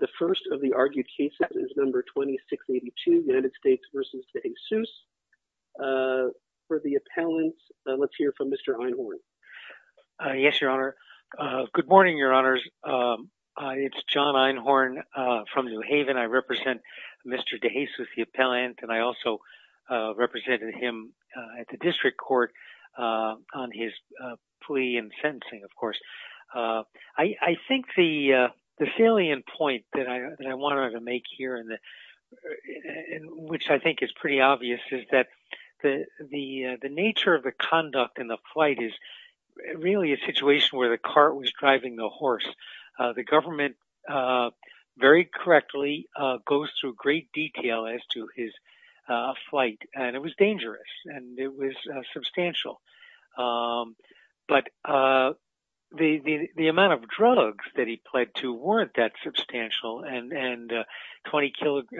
The first of the argued cases is number 2682, United States v. Dejesus, for the appellant. Let's hear from Mr. Einhorn. Yes, Your Honor. Good morning, Your Honors. It's John Einhorn from New Haven. I represent Mr. Dejesus, the appellant, and I also represented him at the district court on his plea and wanted to make here, which I think is pretty obvious, is that the nature of the conduct and the flight is really a situation where the cart was driving the horse. The government, very correctly, goes through great detail as to his flight, and it was dangerous and it was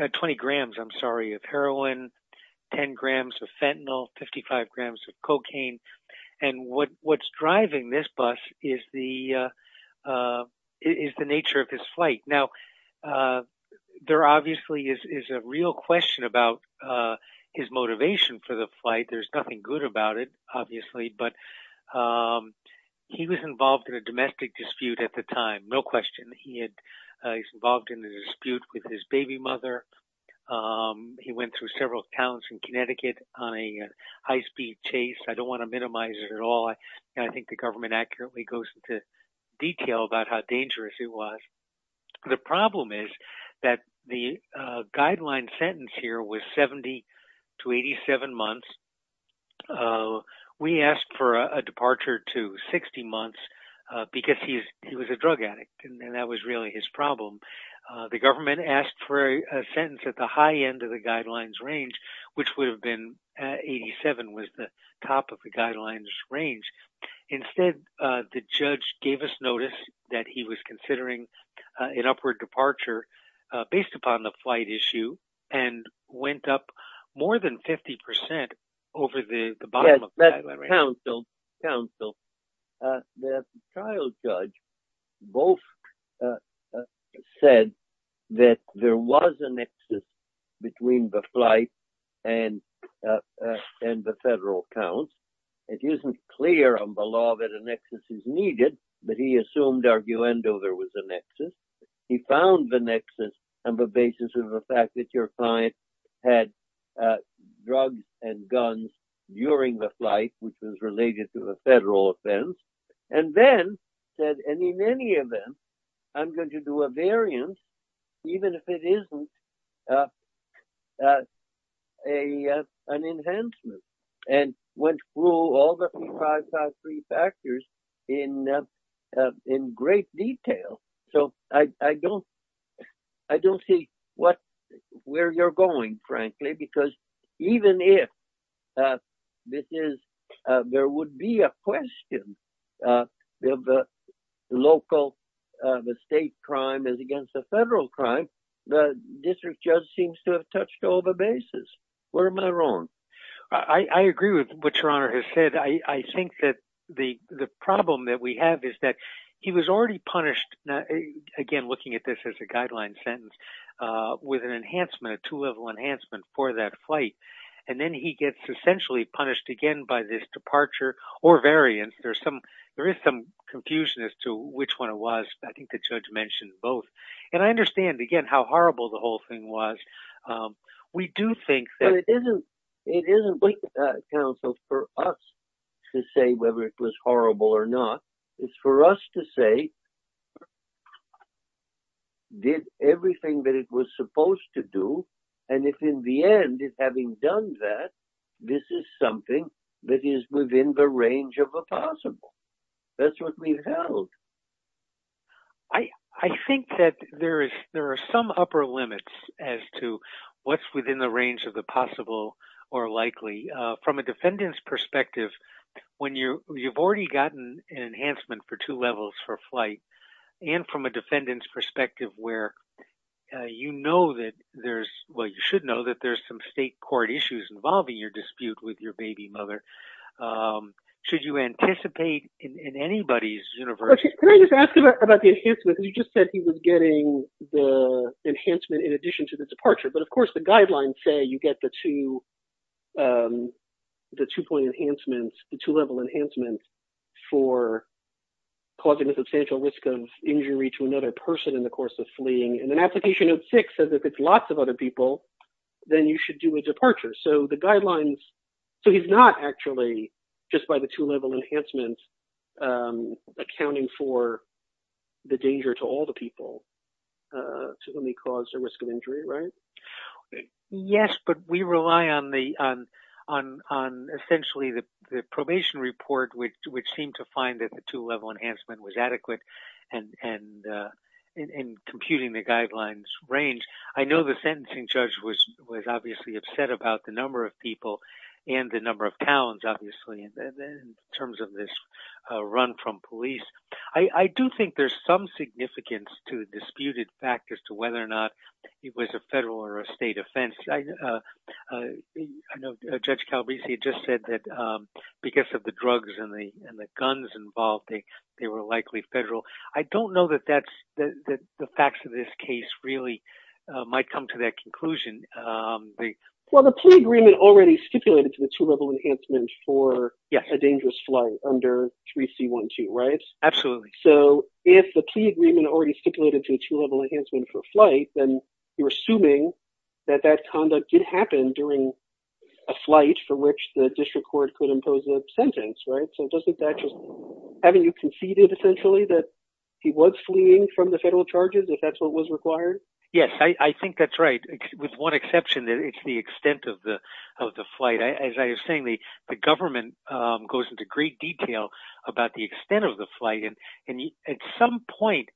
and 20 grams of heroin, 10 grams of fentanyl, 55 grams of cocaine. And what's driving this bus is the nature of his flight. Now, there obviously is a real question about his motivation for the flight. There's nothing good about it, obviously, but he was in a dispute with his baby mother. He went through several counts in Connecticut on a high-speed chase. I don't want to minimize it at all, and I think the government accurately goes into detail about how dangerous it was. The problem is that the guideline sentence here was 70 to 87 months. We asked for a departure to 60 months because he was a drug addict, and that was really his problem. The government asked for a sentence at the high end of the guidelines range, which would have been 87, was the top of the guidelines range. Instead, the judge gave us notice that he was considering an upward departure based upon the flight issue and went up more than said that there was a nexus between the flight and the federal count. It isn't clear on the law that a nexus is needed, but he assumed, arguendo, there was a nexus. He found the nexus on the basis of the fact that your client had drugs and guns during the flight, which was related to the variance, even if it isn't an enhancement. He went through all the five factors in great detail. I don't see where you're going, frankly, because even if there would be a question, the local, the state crime is against the federal crime. The district judge seems to have touched all the bases. Where am I wrong? I agree with what your honor has said. I think that the problem that we have is that he was already punished, again, looking at this as a guideline sentence, with an enhancement, a two-level enhancement for that flight. Then he gets essentially punished by this departure or variance. There is some confusion as to which one it was. I think the judge mentioned both. I understand, again, how horrible the whole thing was. We do think that- But it isn't for us to say whether it was horrible or not. It's for us to say that he did everything that it was supposed to do. If in the end, having done that, this is something that is within the range of the possible. That's what we've held. I think that there are some upper limits as to what's within the range of the possible or likely. From a defendant's perspective, when you've already gotten an enhancement for two and from a defendant's perspective, where you know that there's- Well, you should know that there's some state court issues involving your dispute with your baby mother. Should you anticipate in anybody's universe- Can I just ask about the enhancement? You just said he was getting the enhancement in addition to the departure. Of course, the guidelines say you get the two-level enhancements for causing a substantial risk of injury to another person in the course of fleeing. Application note six says if it's lots of other people, then you should do a departure. He's not actually, just by the two-level enhancements, accounting for the danger to all the people to whom he caused a risk of injury, right? Yes, but we rely on essentially the probation report, which seemed to find that the two-level enhancement was adequate in computing the guidelines range. I know the sentencing judge was obviously upset about the number of people and the number of towns, obviously, in terms of this run from police. I do think there's some significance to the disputed factors to whether or not it was a federal or a state offense. I know Judge Calabresi just said that because of the drugs and the guns involved, they were likely federal. I don't know that the facts of this case really might come to that conclusion. Well, the plea agreement already stipulated to the two-level enhancement for a dangerous flight under 3C12, right? Absolutely. So, if the plea agreement already stipulated to the two-level enhancement for a flight, then you're assuming that that conduct did happen during a flight for which the district court could impose a sentence, right? So, haven't you conceded, essentially, that he was fleeing from the federal charges, if that's what was required? Yes, I think that's right, with one exception, that it's the extent of the flight. As I was saying, the government goes into great detail about the extent of the flight, and at some point,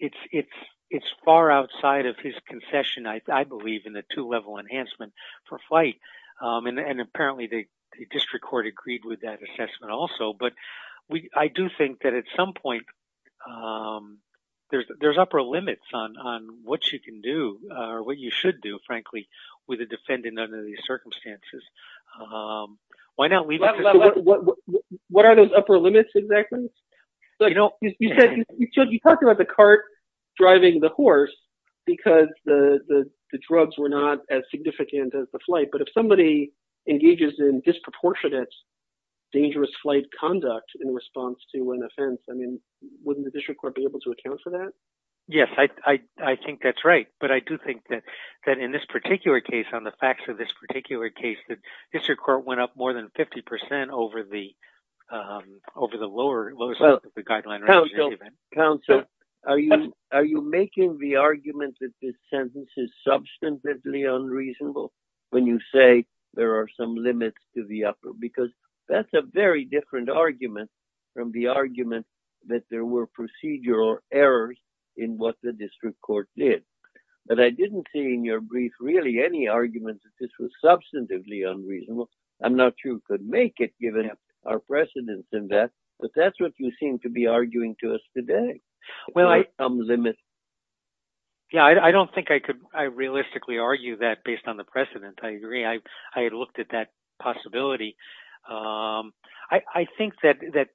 it's far outside of his concession, I believe, in the two-level enhancement for flight. And apparently, the district court agreed with that assessment also. But I do think that at some point, there's upper limits on what you can do, or what you should do, frankly, with a defendant under these circumstances. What are those upper limits, exactly? You talked about the cart driving the horse, because the drugs were not as significant as the flight. But if somebody engages in disproportionate dangerous flight conduct in response to an offense, I mean, wouldn't the district court be able to account for that? Yes, I think that's right. But I do think that in this particular case, on the facts of this particular case, the district court went up more than 50% over the lower section of the guideline. Counsel, are you making the argument that this sentence is substantively unreasonable, when you say there are some limits to the upper? Because that's a very different argument from the argument that there were procedural errors in what the district court did. But I didn't see in your brief really any argument that this was substantively unreasonable. I'm not sure you could make it, given our precedence in that. But that's what you seem to be arguing to us today. Well, I don't think I could realistically argue that based on the precedent. I agree. I had looked at that possibility. I think that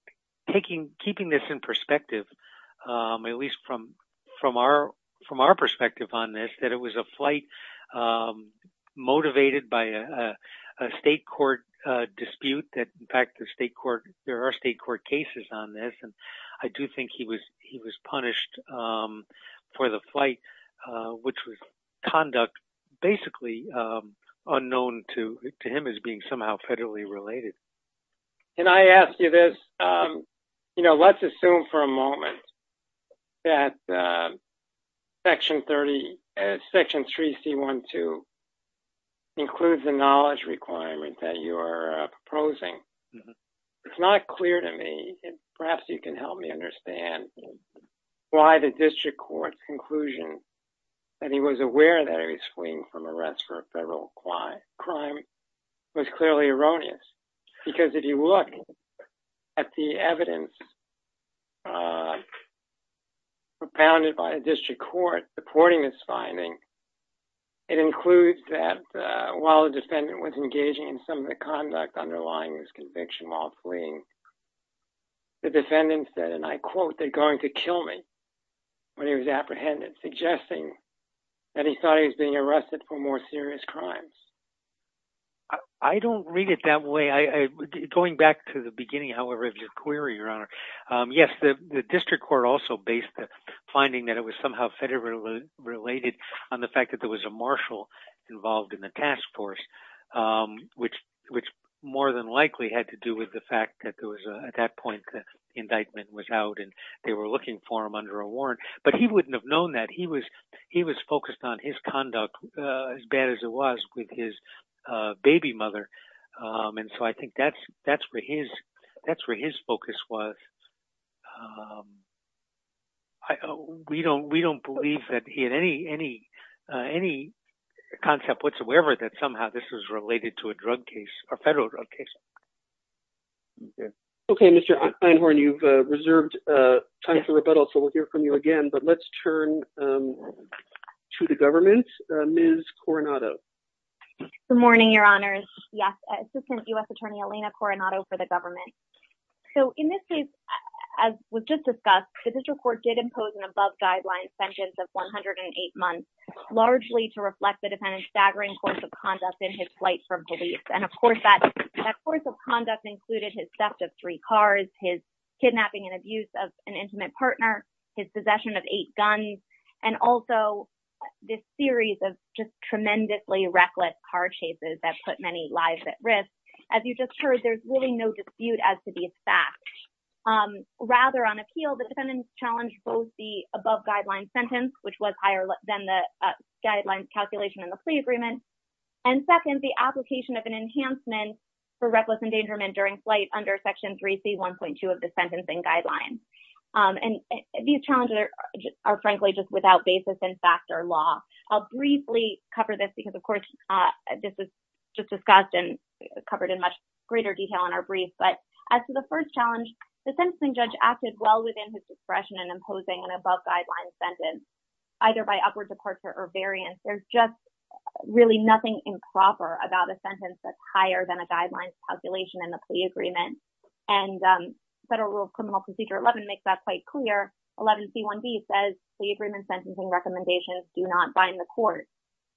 keeping this in perspective, at least from our perspective on this, that it was a flight motivated by a state court dispute that, in fact, there are state court cases on this. And I do think he was punished for the flight, which was conduct basically unknown to him as being federally related. Can I ask you this? Let's assume for a moment that section 3C12 includes the knowledge requirement that you are proposing. It's not clear to me, perhaps you can help me understand why the district court's conclusion that he was aware that he was fleeing from arrest for a federal crime was clearly erroneous. Because if you look at the evidence propounded by the district court supporting this finding, it includes that while the defendant was engaging in some of the conduct underlying his conviction while fleeing, the defendant said, and I quote, they're going to kill me when he was apprehended, suggesting that he thought he was being arrested for more serious crimes. I don't read it that way. Going back to the beginning, however, of your query, Your Honor, yes, the district court also based the finding that it was somehow federally related on the fact that there was a marshal involved in the task force, which more than likely had to do with the but he wouldn't have known that. He was focused on his conduct as bad as it was with his baby mother. And so I think that's where his focus was. We don't believe that he had any concept whatsoever that somehow this was related to a drug case or federal drug case. Okay, Mr. Einhorn, you've reserved time for rebuttal. So we'll hear from you again. But let's turn to the government, Ms. Coronado. Good morning, Your Honors. Yes, Assistant U.S. Attorney Elena Coronado for the government. So in this case, as was just discussed, the district court did impose an above guideline sentence of 108 months, largely to reflect the defendant's staggering course of conduct in his flight from police. And of course, that course of conduct included his theft of three cars, his kidnapping and abuse of an intimate partner, his possession of eight guns, and also this series of just tremendously reckless car chases that put many lives at risk. As you just heard, there's really no dispute as to the fact. Rather, on appeal, the defendant challenged both the above guideline sentence, which was higher than the guidelines calculation in the plea agreement. And second, the application of an enhancement for reckless endangerment during flight under Section 3C1.2 of the Sentencing Guidelines. And these challenges are frankly just without basis in fact or law. I'll briefly cover this because, of course, this is just discussed and covered in much greater detail in our brief. But as to the first challenge, the sentencing judge acted well within his discretion in imposing an above guideline sentence. Either by upward departure or variance, there's just really nothing improper about a sentence that's higher than a guideline calculation in the plea agreement. And Federal Rule of Criminal Procedure 11 makes that quite clear. 11C1b says plea agreement sentencing recommendations do not bind the court.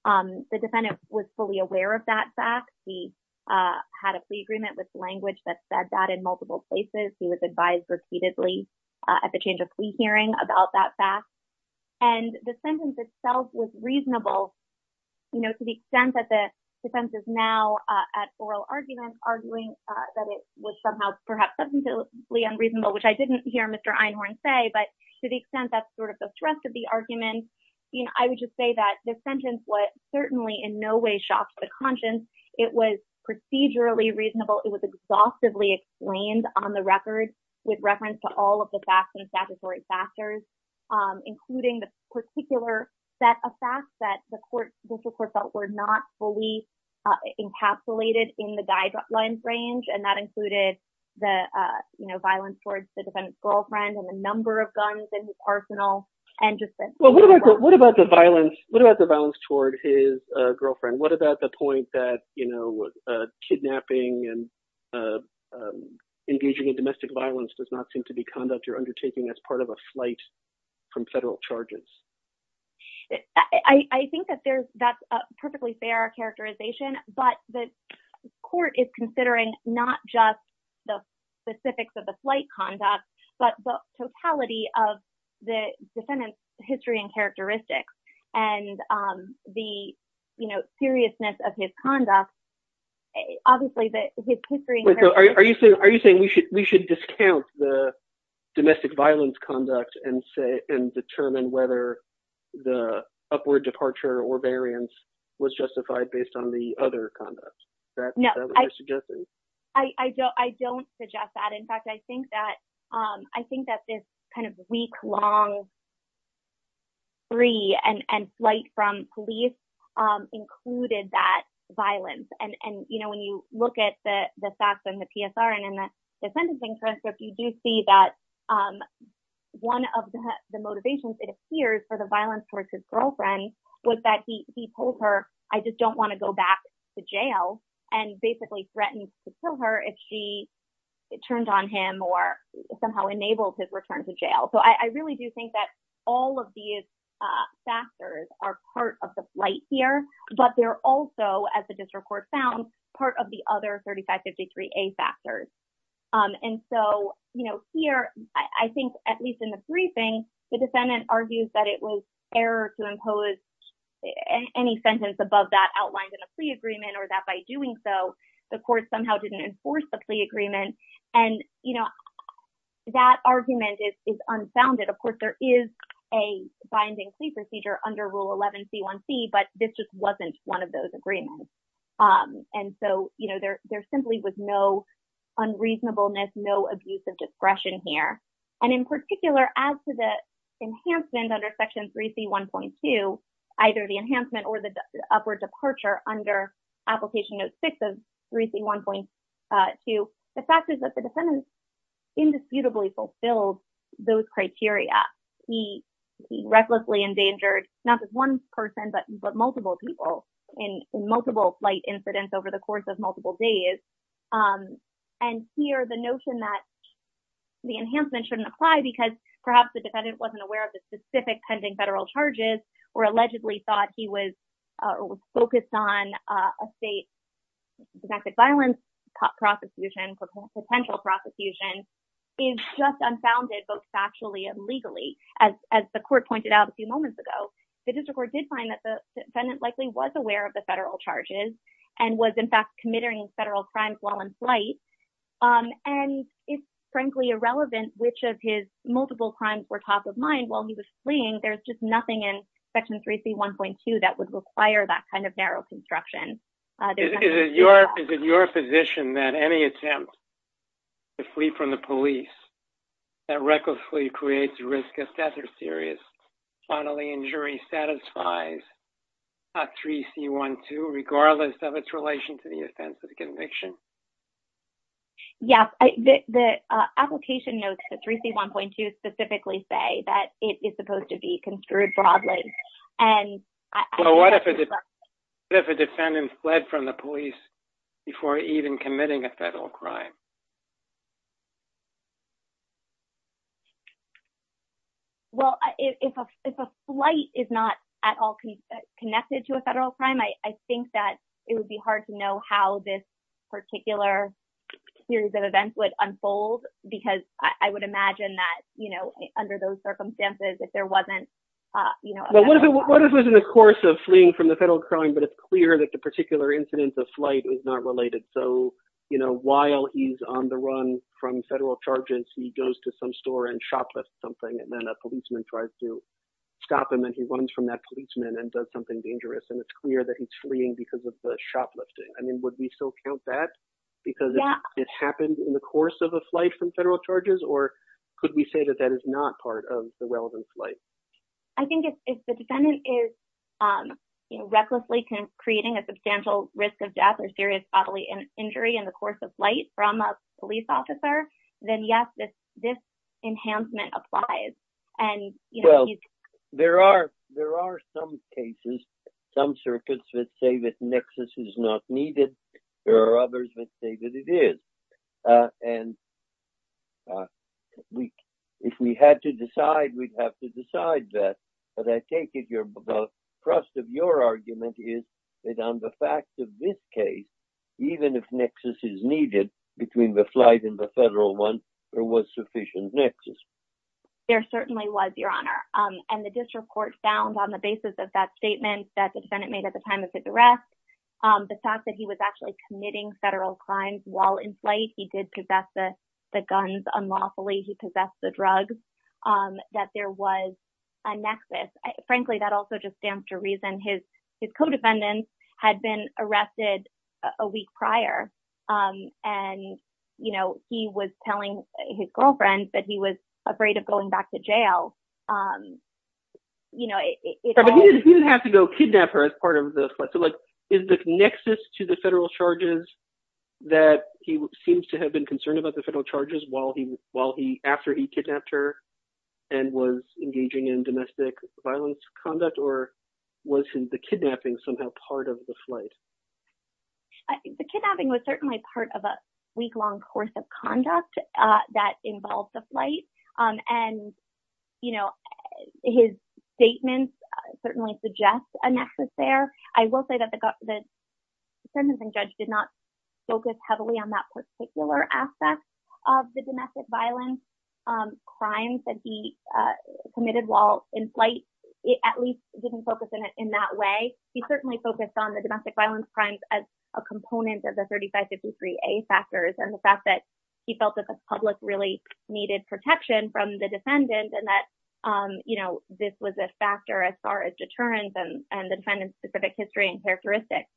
The defendant was fully aware of that fact. He had a plea agreement with language that said that in multiple places. He was advised repeatedly at the change of plea hearing about that fact. And the sentence itself was reasonable, you know, to the extent that the defense is now at oral argument, arguing that it was somehow perhaps substantively unreasonable, which I didn't hear Mr. Einhorn say. But to the extent that's sort of the thrust of the argument, you know, I would just say that the sentence was certainly in no way shocked to the conscience. It was procedurally reasonable. It was exhaustively explained on the record with reference to all of the facts and statutory factors, including the particular set of facts that the court, were not fully encapsulated in the guidelines range. And that included the, you know, violence towards the defendant's girlfriend and the number of guns in his arsenal. And just what about the violence? What about the violence toward his girlfriend? What about the point that, you know, kidnapping and engaging in domestic violence does not seem to be conduct as part of a flight from federal charges? I think that that's a perfectly fair characterization, but the court is considering not just the specifics of the flight conduct, but the totality of the defendant's history and characteristics and the seriousness of his domestic violence conduct and determine whether the upward departure or variance was justified based on the other conduct. Is that what you're suggesting? I don't suggest that. In fact, I think that this kind of week-long free and flight from police included that violence. And, you know, when you look at the PSR and in the sentencing transcript, you do see that one of the motivations, it appears, for the violence towards his girlfriend was that he told her, I just don't want to go back to jail and basically threatened to kill her if she turned on him or somehow enabled his return to jail. So I really do think that all of these factors are part of the flight here, but they're also, as the district court found, part of the other 3553A factors. And so, you know, here, I think, at least in the briefing, the defendant argues that it was error to impose any sentence above that outlined in a plea agreement or that by doing so, the court somehow didn't enforce the plea agreement. And, you know, that argument is unfounded. Of course, there is a binding plea procedure under Rule 11C1C, but this just wasn't one of those agreements. And so, you know, there simply was no unreasonableness, no abuse of discretion here. And in particular, as to the enhancement under Section 3C1.2, either the enhancement or the upward departure under Application Note 6 of 3C1.2, the fact is that the defendant indisputably fulfilled those criteria. He recklessly endangered not just one person, but multiple people in multiple flight incidents over the course of multiple days. And here, the notion that the enhancement shouldn't apply because perhaps the defendant wasn't aware of the specific pending federal charges or allegedly thought he was focused on a state protected violence prosecution, potential prosecution, is just unfounded, both factually and legally. As the court pointed out a few moments ago, the district court did find that the defendant likely was aware of the federal charges and was, in fact, committing federal crimes while in flight. And it's, frankly, irrelevant which of his multiple crimes were top of mind while he was fleeing. There's just nothing in Section 3C1.2 that would require that kind of narrow construction. Is it your position that any attempt to flee from the police that recklessly creates risk of death or serious bodily injury satisfies 3C1.2, regardless of its relation to the offense of conviction? Yes. The application notes to 3C1.2 specifically say that it is supposed to be construed broadly. And what if a defendant fled from the police before even committing a federal crime? Well, if a flight is not at all connected to a federal crime, I think that it would be hard to know how this particular series of events would unfold because I would imagine that, under those circumstances, if there wasn't a federal crime. What if it was in the course of fleeing from the federal crime, but it's clear that the particular incidence of flight is not related? So, while he's on the run from federal charges, he goes to some store and shoplifts something, and then a policeman tries to stop him, and he runs from that policeman and does something dangerous. And it's clear that he's fleeing because of the shoplifting. I mean, would we still count that because it happened in the course of a or could we say that that is not part of the relevant flight? I think if the defendant is recklessly creating a substantial risk of death or serious bodily injury in the course of flight from a police officer, then yes, this enhancement applies. Well, there are some cases, some circuits that say that nexus is not needed. There are others that say that it is. And if we had to decide, we'd have to decide that. But I take it the crust of your argument is that on the facts of this case, even if nexus is needed between the flight and the federal one, there was sufficient nexus. There certainly was, Your Honor. And the district court found on the basis of that statement that the defendant made at the time of his arrest, the fact that he was actually committing federal crimes while in flight, he did possess the guns unlawfully, he possessed the drugs, that there was a nexus. Frankly, that also just stands to reason his co-defendants had been arrested a week prior. And, you know, he was telling his girlfriend that he was afraid of kidnapping her as part of the flight. Is the nexus to the federal charges that he seems to have been concerned about the federal charges after he kidnapped her and was engaging in domestic violence conduct? Or was the kidnapping somehow part of the flight? The kidnapping was certainly part of a week-long course of conduct that involved the flight. And, you know, his statements certainly suggest a nexus there. I will say that the sentencing judge did not focus heavily on that particular aspect of the domestic violence crimes that he committed while in flight. It at least didn't focus in that way. He certainly focused on the domestic violence crimes as a component of the 3553A factors and the fact that he felt that the public really needed protection from the defendant and that, you know, this was a factor as far as deterrence and the defendant's specific history and characteristics.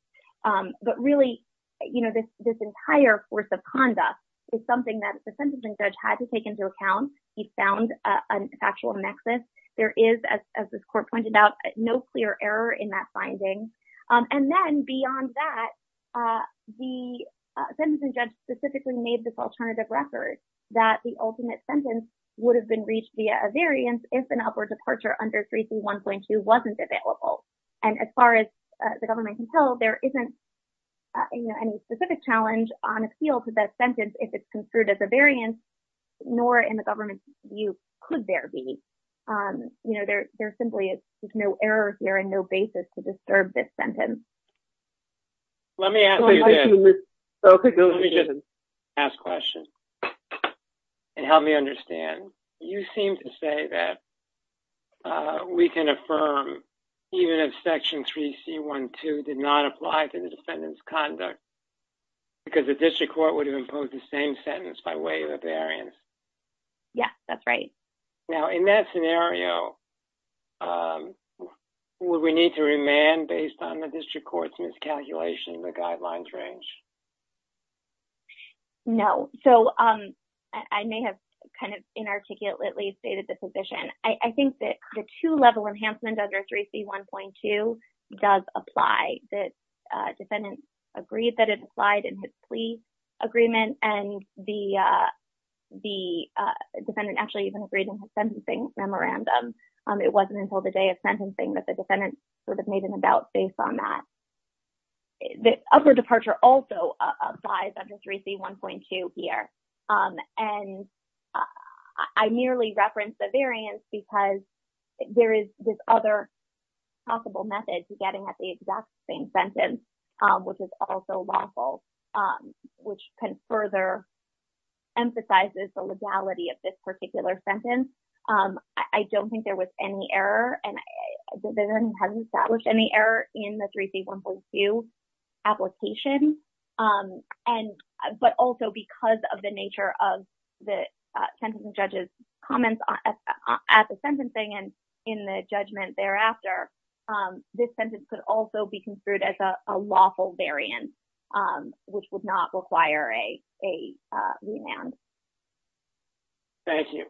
But really, you know, this entire course of conduct is something that the sentencing judge had to take into account. He found a factual nexus. There is, as this court pointed out, no clear error in that finding. And then beyond that, the sentencing judge specifically made this record that the ultimate sentence would have been reached via a variance if an upward departure under 331.2 wasn't available. And as far as the government can tell, there isn't, you know, any specific challenge on appeal to that sentence if it's construed as a variance, nor in the government's view could there be. You know, there simply is no error here and no basis to disturb this sentence. Let me ask a question and help me understand. You seem to say that we can affirm even if section 3C12 did not apply to the defendant's conduct because the district court would have imposed the same sentence by way of a variance. Yes, that's right. Now, in that scenario, would we need to remand based on the district court's miscalculation in the guidelines range? No. So, I may have kind of inarticulately stated the position. I think that the two-level enhancement under 3C1.2 does apply. The defendant agreed that it applied in the plea agreement and the defendant actually even agreed in his sentencing memorandum. It wasn't until the day of sentencing that the defendant sort of made an about based on that. The upward departure also applies under 3C1.2 here. And I merely referenced the variance because there is this other possible method to getting at the exact same sentence, which is also lawful, which can further emphasize the legality of this particular sentence. I don't think there was any error and the defendant hasn't established any error in the 3C1.2 application. But also because of the nature of the sentencing judge's comments at the sentencing and in the judgment thereafter, this sentence could also be construed as a lawful variance, which would not require a remand. Thank you.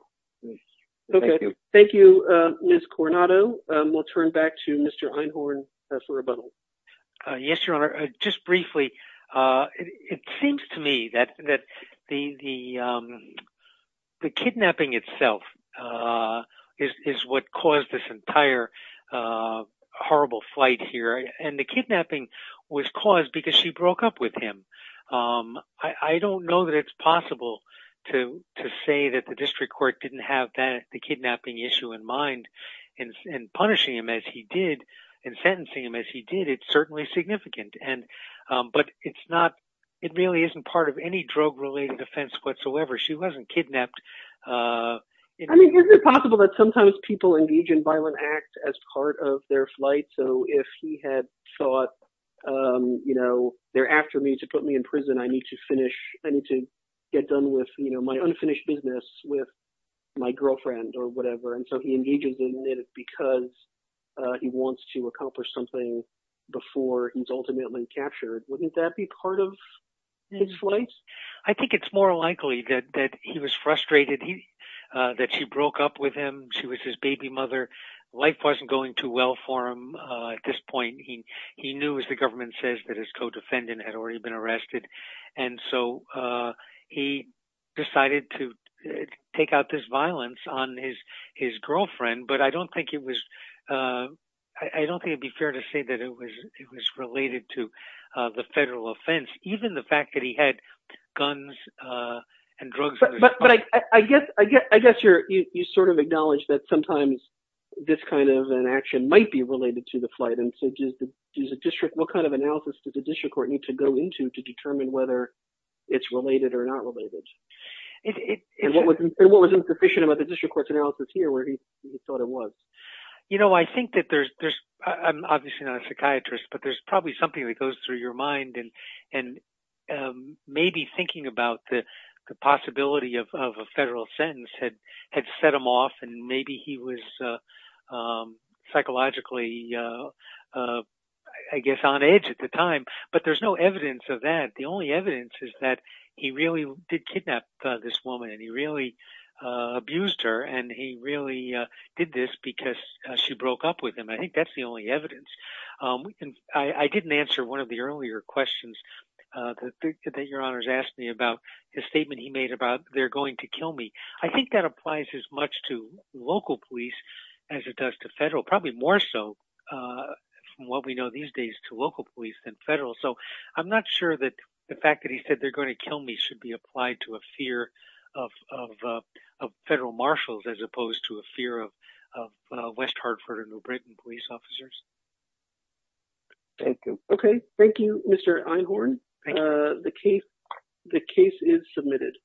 Okay. Thank you, Ms. Coronado. We'll turn back to Mr. Einhorn for rebuttal. Yes, Your Honor. Just briefly, it seems to me that the kidnapping itself is what caused this entire horrible fight here. And the kidnapping was caused because she broke up with him. I don't know that it's possible to say that the district court didn't have that the kidnapping issue in mind and punishing him as he did and sentencing him as he did. It's certainly significant. But it really isn't part of any drug related offense whatsoever. She wasn't kidnapped. I mean, is it possible that sometimes people engage in violent act as part of their flight? So if he had thought, you know, they're after me to put me in prison, I need to finish, I need to get done with, you know, my unfinished business with my girlfriend or whatever. And so he engages in it because he wants to accomplish something before he's ultimately captured. Wouldn't that be part of his flight? I think it's more likely that he was frustrated that she broke up with him. She was his baby mother. Life wasn't going too well for him. At this point, he knew, as the government says, that his co-defendant had already been arrested. And so he decided to take out this violence on his girlfriend. But I don't think it was, I don't think it'd be fair to say that it was it was related to the federal offense, even the fact that he had guns and drugs. But I guess I guess I guess you're you sort of acknowledge that sometimes this kind of an action might be related to the flight. And so does the district, what kind of analysis does the district court need to go into to determine whether it's related or not related? And what was what was insufficient about the district court's analysis here where he thought it was? You know, I think that there's there's I'm obviously not a psychiatrist, but there's probably something that goes through your mind. And maybe thinking about the possibility of a federal sentence had had set him off. And maybe he was psychologically, I guess, on edge at the time. But there's no evidence of that. The only he really did this because she broke up with him. I think that's the only evidence. I didn't answer one of the earlier questions that your honors asked me about the statement he made about they're going to kill me. I think that applies as much to local police as it does to federal, probably more so from what we know these days to local police than federal. So I'm not sure that the fact that he said they're going to kill me should be applied to a fear of federal marshals as opposed to a fear of West Hartford or New Britain police officers. Thank you. Okay. Thank you, Mr. Einhorn. The case, the case is submitted.